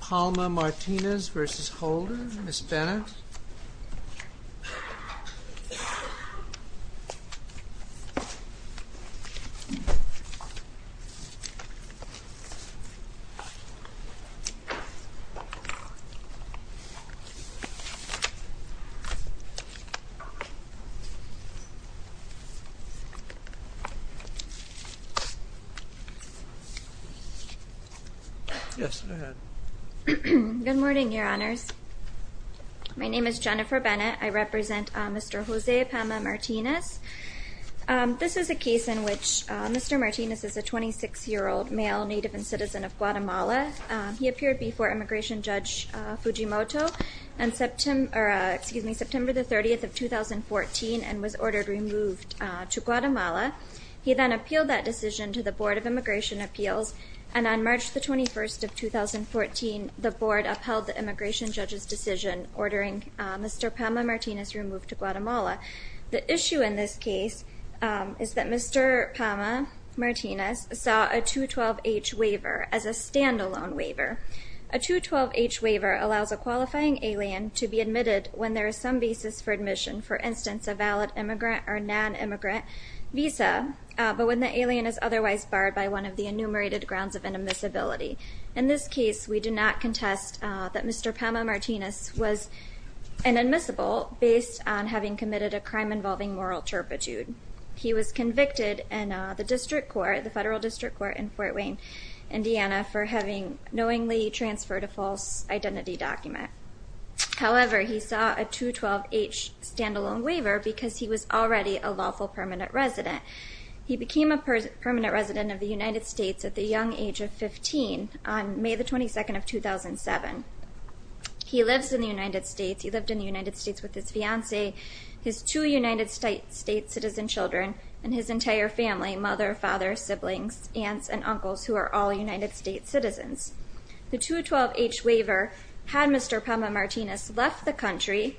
Palma-Martinez v. Holder, Ms. Bennett. Good morning, Your Honors. My name is Jennifer Bennett. I represent Mr. Jose Palma-Martinez. This is a case in which Mr. Martinez is a 26-year-old male native and citizen of Guatemala. He appeared before Immigration Judge Fujimoto on September 30, 2014 and was ordered removed to Guatemala. He then appealed that decision to the Board of Immigration Appeals, and on March 21, 2014, the Board upheld the Immigration Judge's decision ordering Mr. Palma-Martinez removed to Guatemala. The issue in this case is that Mr. Palma-Martinez saw a 212-H waiver as a standalone waiver. A 212-H waiver allows a qualifying alien to be admitted when there is some basis for admission, for instance, a valid immigrant or non-immigrant visa, but when the alien is otherwise barred by one of the enumerated grounds of inadmissibility. In this case, we do not contest that Mr. Palma-Martinez was inadmissible based on having committed a crime involving moral turpitude. He was convicted in the District Court, the Federal District Court in Fort Wayne, Indiana, for having knowingly transferred a false identity document. However, he saw a 212-H standalone waiver because he was already a lawful permanent resident. He became a permanent resident of the United States at the young age of 15 on May 22, 2007. He lives in the United States. He lived in the United States with his fiancée, his two United States citizen children, and his entire family, mother, father, siblings, aunts, and uncles, who are all United States citizens. The 212-H waiver had Mr. Palma-Martinez left the country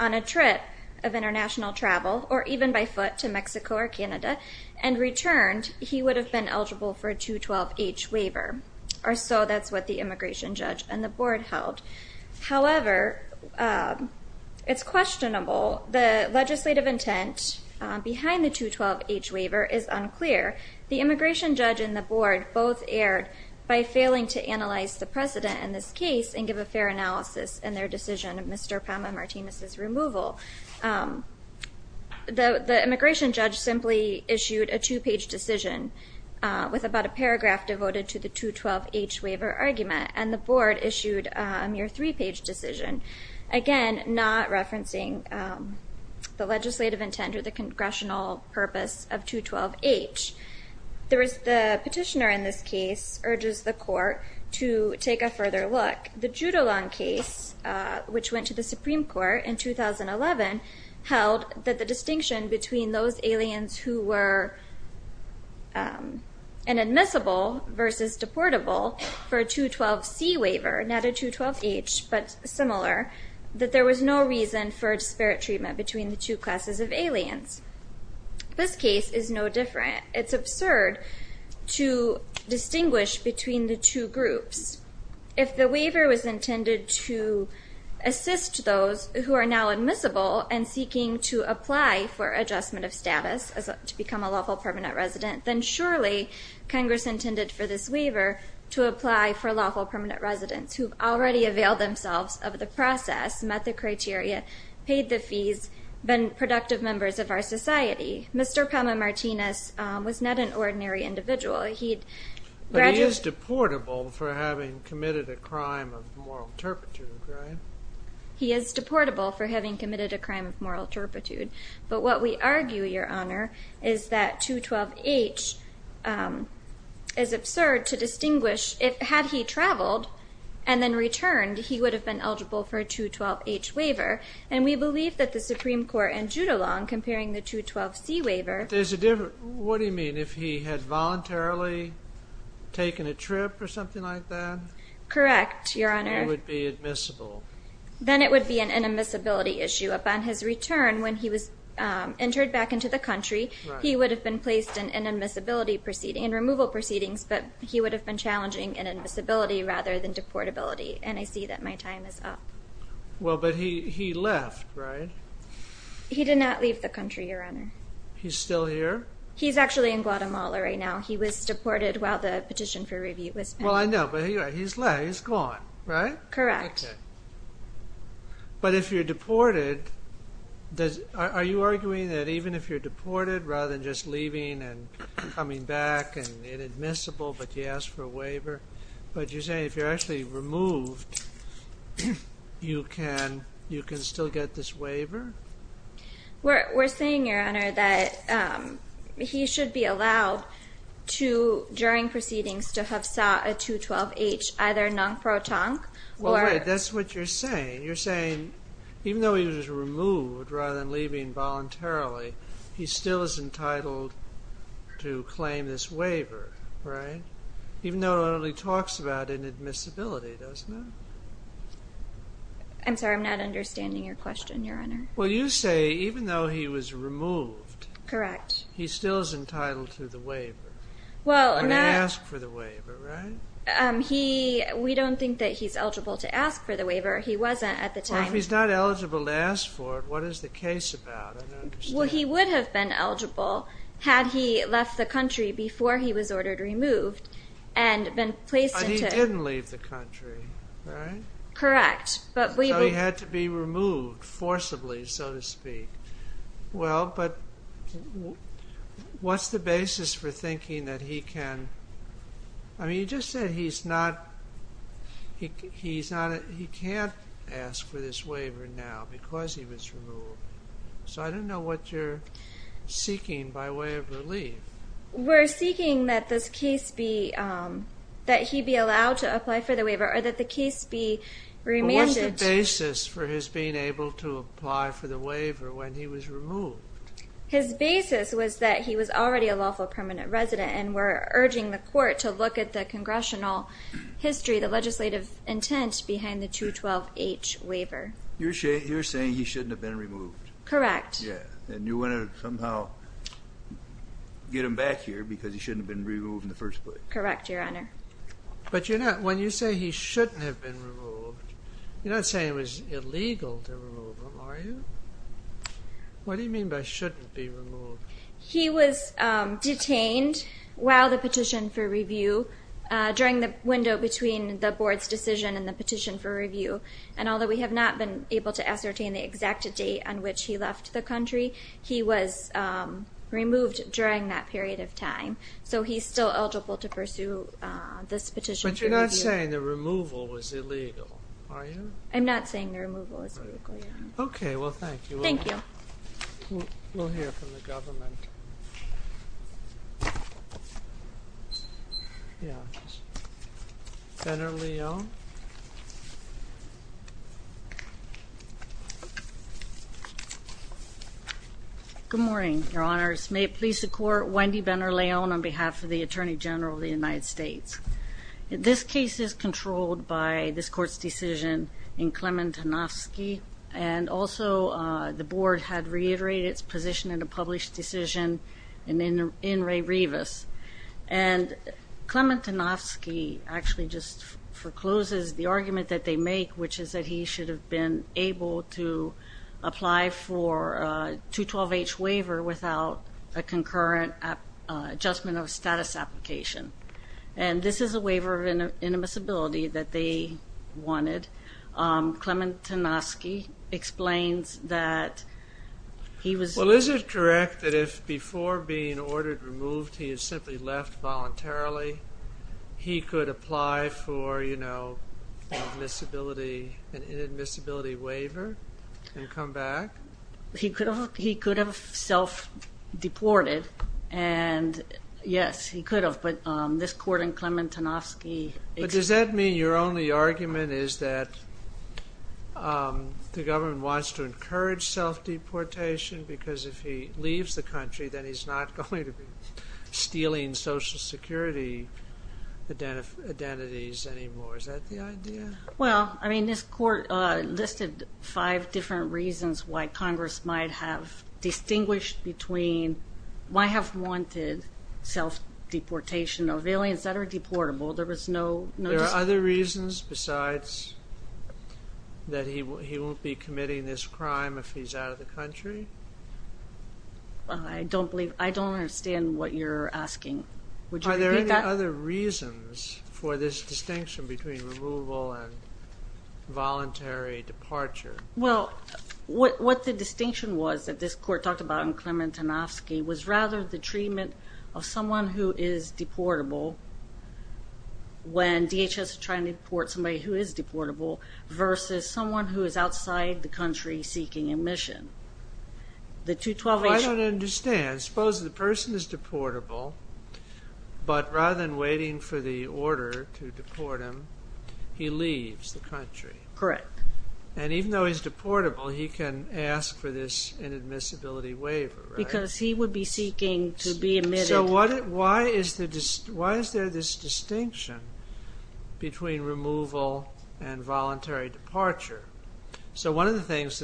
on a trip of international travel or even by foot to Mexico or Canada and returned, he would have been eligible for a 212-H waiver, or so that's what the immigration judge and the board held. However, it's questionable. The legislative intent behind the 212-H waiver is unclear. The immigration judge and the board both erred by failing to analyze the precedent in this case and give a fair analysis in their decision of Mr. Palma-Martinez's removal. The immigration judge simply issued a two-page decision with about a paragraph devoted to the 212-H waiver argument, and the board issued a mere three-page decision. Again, not referencing the legislative intent or the congressional purpose of 212-H. The petitioner in this case urges the court to take a further look. The Judolon case, which went to the Supreme Court in 2011, held that the distinction between those aliens who were inadmissible versus deportable for a 212-C waiver, not a 212-H, but similar, that there was no reason for disparate treatment between the two classes of aliens. This case is no different. It's absurd to distinguish between the two groups. If the waiver was intended to assist those who are now admissible and seeking to apply for adjustment of status to become a lawful permanent resident, then surely Congress intended for this waiver to apply for lawful permanent residents who've already availed themselves of the process, met the criteria, paid the fees, been productive members of our society. Mr. Palma-Martinez was not an ordinary individual. He'd rather... But he is deportable for having committed a crime of moral turpitude, right? He is deportable for having committed a crime of moral turpitude. But what we argue, Your Honor, is that 212-H is absurd to distinguish. Had he traveled and then returned, he would have been eligible for a 212-H waiver. And we believe that the Supreme Court in Judolong, comparing the 212-C waiver... There's a difference. What do you mean? If he had voluntarily taken a trip or something like that? Correct, Your Honor. Then he would be admissible. Then it would be an inadmissibility issue. Upon his return, when he was entered back into the country, he would have been placed in removal proceedings, but he would have been challenging inadmissibility rather than deportability. And I see that my time is up. Well, but he left, right? He did not leave the country, Your Honor. He's still here? He's actually in Guatemala right now. He was deported while the petition for review was pending. Well, I know, but he's left. He's gone, right? Correct. Okay. But if you're deported, are you arguing that even if you're deported, rather than just leaving and coming back and inadmissible, but you ask for a waiver? But you're saying if you're actually removed, you can still get this waiver? We're saying, Your Honor, that he should be allowed to, during proceedings, to have sought a 212-H, either non-protonc or... Well, wait. That's what you're saying. You're saying even though he was removed rather than leaving voluntarily, he still is entitled to claim this waiver, right? Even though it only talks about inadmissibility, doesn't it? I'm sorry. I'm not understanding your question, Your Honor. Well, you say even though he was removed... Correct. ...he still is entitled to the waiver. Well, not... ...to the waiver, right? He... We don't think that he's eligible to ask for the waiver. He wasn't at the time. Well, if he's not eligible to ask for it, what is the case about? I don't understand. Well, he would have been eligible had he left the country before he was ordered removed and been placed into... But he didn't leave the country, right? Correct. But we... So he had to be removed forcibly, so to speak. Well, but what's the basis for thinking that he can... I mean, you just said he's not... He's not... He can't ask for this waiver now because he was removed. So I don't know what you're seeking by way of relief. We're seeking that this case be... That he be allowed to apply for the waiver or that the case be remanded to... But what's the basis for his being able to apply for the waiver when he was removed? His basis was that he was already a lawful permanent resident and we're urging the court to look at the congressional history, the legislative intent behind the 212H waiver. You're saying he shouldn't have been removed? Correct. Yeah. And you want to somehow get him back here because he shouldn't have been removed in the first place? Correct, Your Honor. But you're not... When you say he shouldn't have been removed, you're not saying it was He was detained while the petition for review, during the window between the board's decision and the petition for review. And although we have not been able to ascertain the exact date on which he left the country, he was removed during that period of time. So he's still eligible to pursue this petition for review. But you're not saying the removal was illegal, are you? I'm not saying the removal was illegal, Your Honor. Okay. Well, thank you. Thank you. We'll hear from the government. Benner-Leon. Good morning, Your Honors. May it please the Court, Wendy Benner-Leon on behalf of the Attorney General of the United States. This case is controlled by this Court's decision in Klementinovsky. And also, the board had reiterated its position in a published decision in Ray Rivas. And Klementinovsky actually just forecloses the argument that they make, which is that he should have been able to apply for a 212H waiver without a concurrent adjustment of This is a waiver of inadmissibility that they wanted. Klementinovsky explains that he was Well, is it correct that if before being ordered removed, he had simply left voluntarily, he could apply for, you know, an inadmissibility waiver and come back? He could have self-deported. And yes, he could have. But this Court in Klementinovsky But does that mean your only argument is that the government wants to encourage self-deportation? Because if he leaves the country, then he's not going to be stealing Social Security identities anymore. Is that the idea? Well, I mean, this Court listed five different reasons why Congress might have distinguished between why have wanted self-deportation of aliens that are deportable. There was no There are other reasons besides that he won't be committing this crime if he's out of the country? I don't believe I don't understand what you're asking. Are there any other reasons for this distinction between removal and voluntary departure? Well, what the distinction was that this Court talked about in Klementinovsky was rather the treatment of someone who is deportable when DHS is trying to deport somebody who is deportable versus someone who is outside the country seeking admission. I don't understand. Suppose the person is deportable, but rather than waiting for the order to deport him, he leaves the country. Correct. And even though he's deportable, he can ask for this inadmissibility waiver, right? Because he would be seeking to be admitted. So why is there this distinction between removal and voluntary departure? So one of the things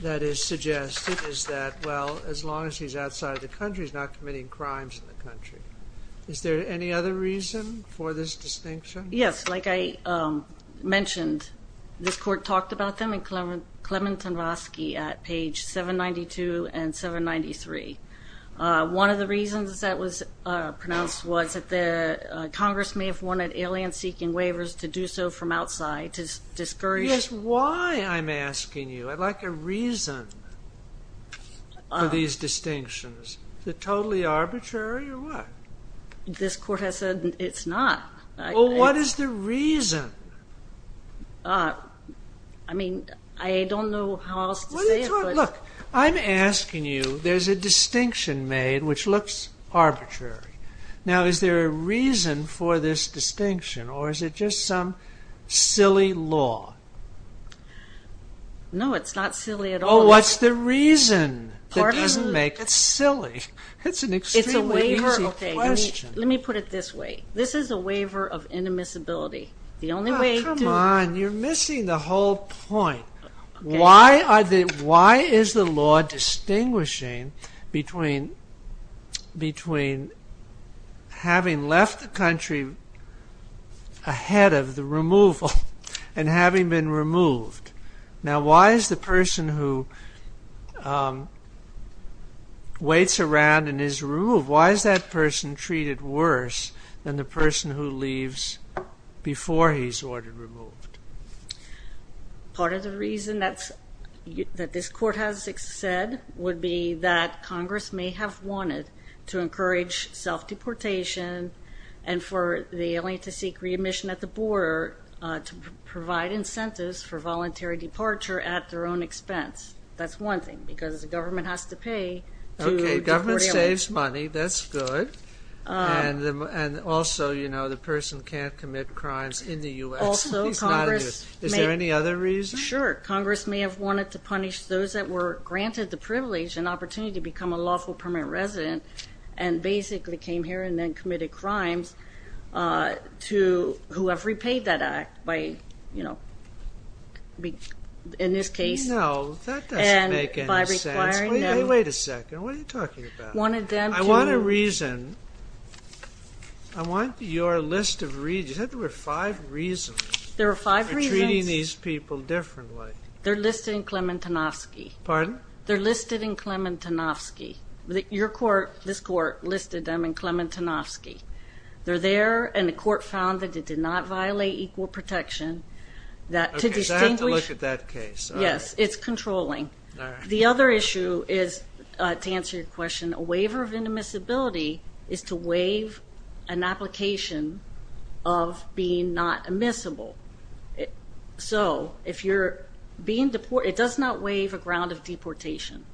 that is suggested is that, well, as long as he's outside the country, he's not committing crimes in the country. Is there any other reason for this distinction? Yes. Like I mentioned, this Court talked about them in Klementinovsky at page 792 and 793. One of the reasons that was pronounced was that Congress may have wanted aliens seeking waivers to do so from outside to discourage. Yes, why, I'm asking you. I'd like a reason for these distinctions. Is it totally arbitrary or what? This Court has said it's not. Well, what is the reason? I mean, I don't know how else to say it. Look, I'm asking you. There's a distinction made which looks arbitrary. Now, is there a reason for this distinction or is it just some silly law? No, it's not silly at all. Oh, what's the reason that doesn't make it silly? It's an extremely easy question. Let me put it this way. This is a waiver of indemnizability. Come on, you're missing the whole point. Why is the law distinguishing between having left the country ahead of the removal and having been removed? Now, why is the person who waits around and is removed, why is that person treated worse than the person who leaves before he's ordered removed? Part of the reason that this Court has said would be that Congress may have wanted to encourage self-deportation and for the alien to seek re-admission at the border to provide incentives for voluntary departure at their own expense. That's one thing because the government has to pay to deport aliens. It saves money. That's good. And also, you know, the person can't commit crimes in the U.S. Also, Congress may have wanted to punish those that were granted the privilege and opportunity to become a lawful permanent resident and basically came here and then committed crimes to whoever repaid that act, in this case. No, that doesn't make any sense. Wait a second. What are you talking about? I want a reason. I want your list of reasons. You said there were five reasons for treating these people differently. They're listed in Klementinovsky. Pardon? They're listed in Klementinovsky. Your Court, this Court, listed them in Klementinovsky. They're there, and the Court found that it did not violate equal protection. Okay, so I have to look at that case. Yes, it's controlling. All right. The other issue is, to answer your question, a waiver of immiscibility is to waive an application of being not immiscible. So if you're being deported, it does not waive a ground of deportation.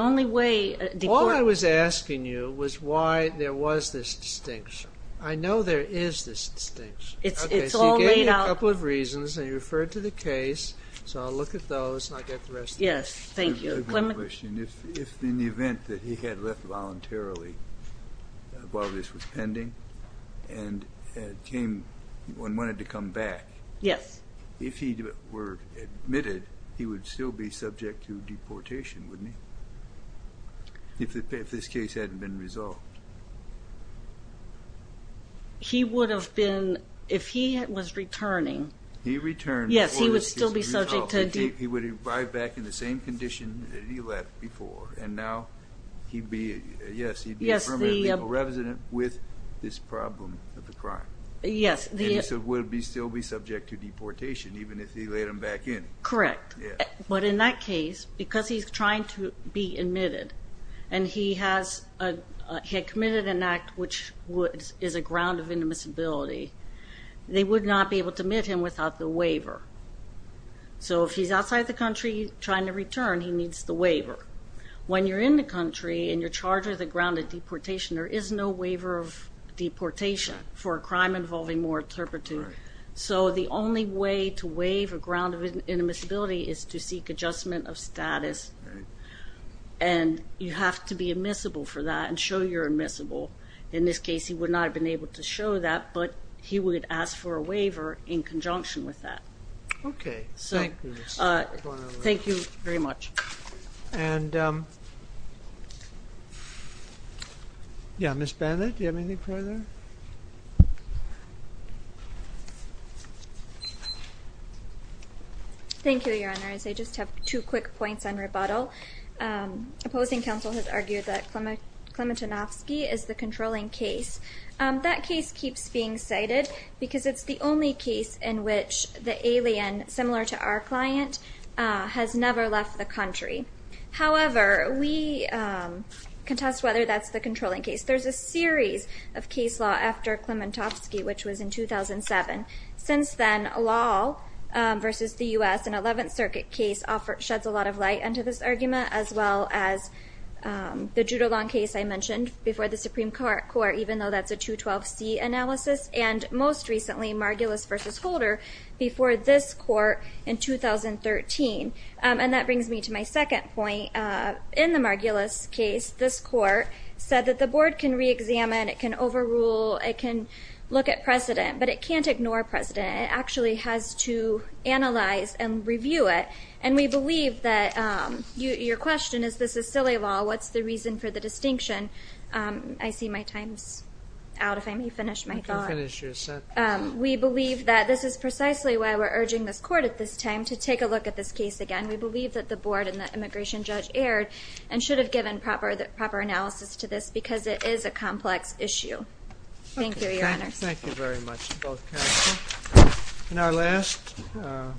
All I was asking you was why there was this distinction. I know there is this distinction. It's all laid out. Okay, so you gave me a couple of reasons, and you referred to the case. So I'll look at those, and I'll get the rest of them. Yes, thank you. If, in the event that he had left voluntarily while this was pending and wanted to come back, if he were admitted, he would still be subject to deportation, wouldn't he, if this case hadn't been resolved? He would have been, if he was returning. He returned. Yes, he would still be subject to deportation. He would arrive back in the same condition that he left before, and now he'd be a permanent legal resident with this problem of the crime. Yes. And he would still be subject to deportation, even if he let him back in. Correct. But in that case, because he's trying to be admitted, and he had committed an act which is a ground of immiscibility, they would not be able to admit him without the waiver. So if he's outside the country trying to return, he needs the waiver. When you're in the country and you're charged with a ground of deportation, there is no waiver of deportation for a crime involving more interpreters. So the only way to waive a ground of immiscibility is to seek adjustment of status, and you have to be admissible for that and show you're admissible. In this case, he would not have been able to show that, but he would ask for a waiver in conjunction with that. Okay. Thank you. Thank you very much. And, yeah, Ms. Bennett, do you have anything further? Thank you, Your Honors. I just have two quick points on rebuttal. Opposing counsel has argued that Klementinovsky is the controlling case. That case keeps being cited because it's the only case in which the alien, similar to our client, has never left the country. However, we contest whether that's the controlling case. There's a series of case law after Klementinovsky, which was in 2007. Since then, a law versus the U.S., an 11th Circuit case, sheds a lot of light onto this argument, as well as the Judolon case I mentioned before the Supreme Court, even though that's a 212C analysis, and most recently Margulis v. Holder before this court in 2013. And that brings me to my second point. In the Margulis case, this court said that the board can reexamine, it can overrule, it can look at precedent, but it can't ignore precedent. It actually has to analyze and review it. And we believe that your question is this is silly law. What's the reason for the distinction? I see my time's out. If I may finish my thought. You can finish your sentence. We believe that this is precisely why we're urging this court at this time to take a look at this case again. We believe that the board and the immigration judge erred and should have given proper analysis to this because it is a complex issue. Thank you, Your Honor. Thank you very much to both counsel. In our last...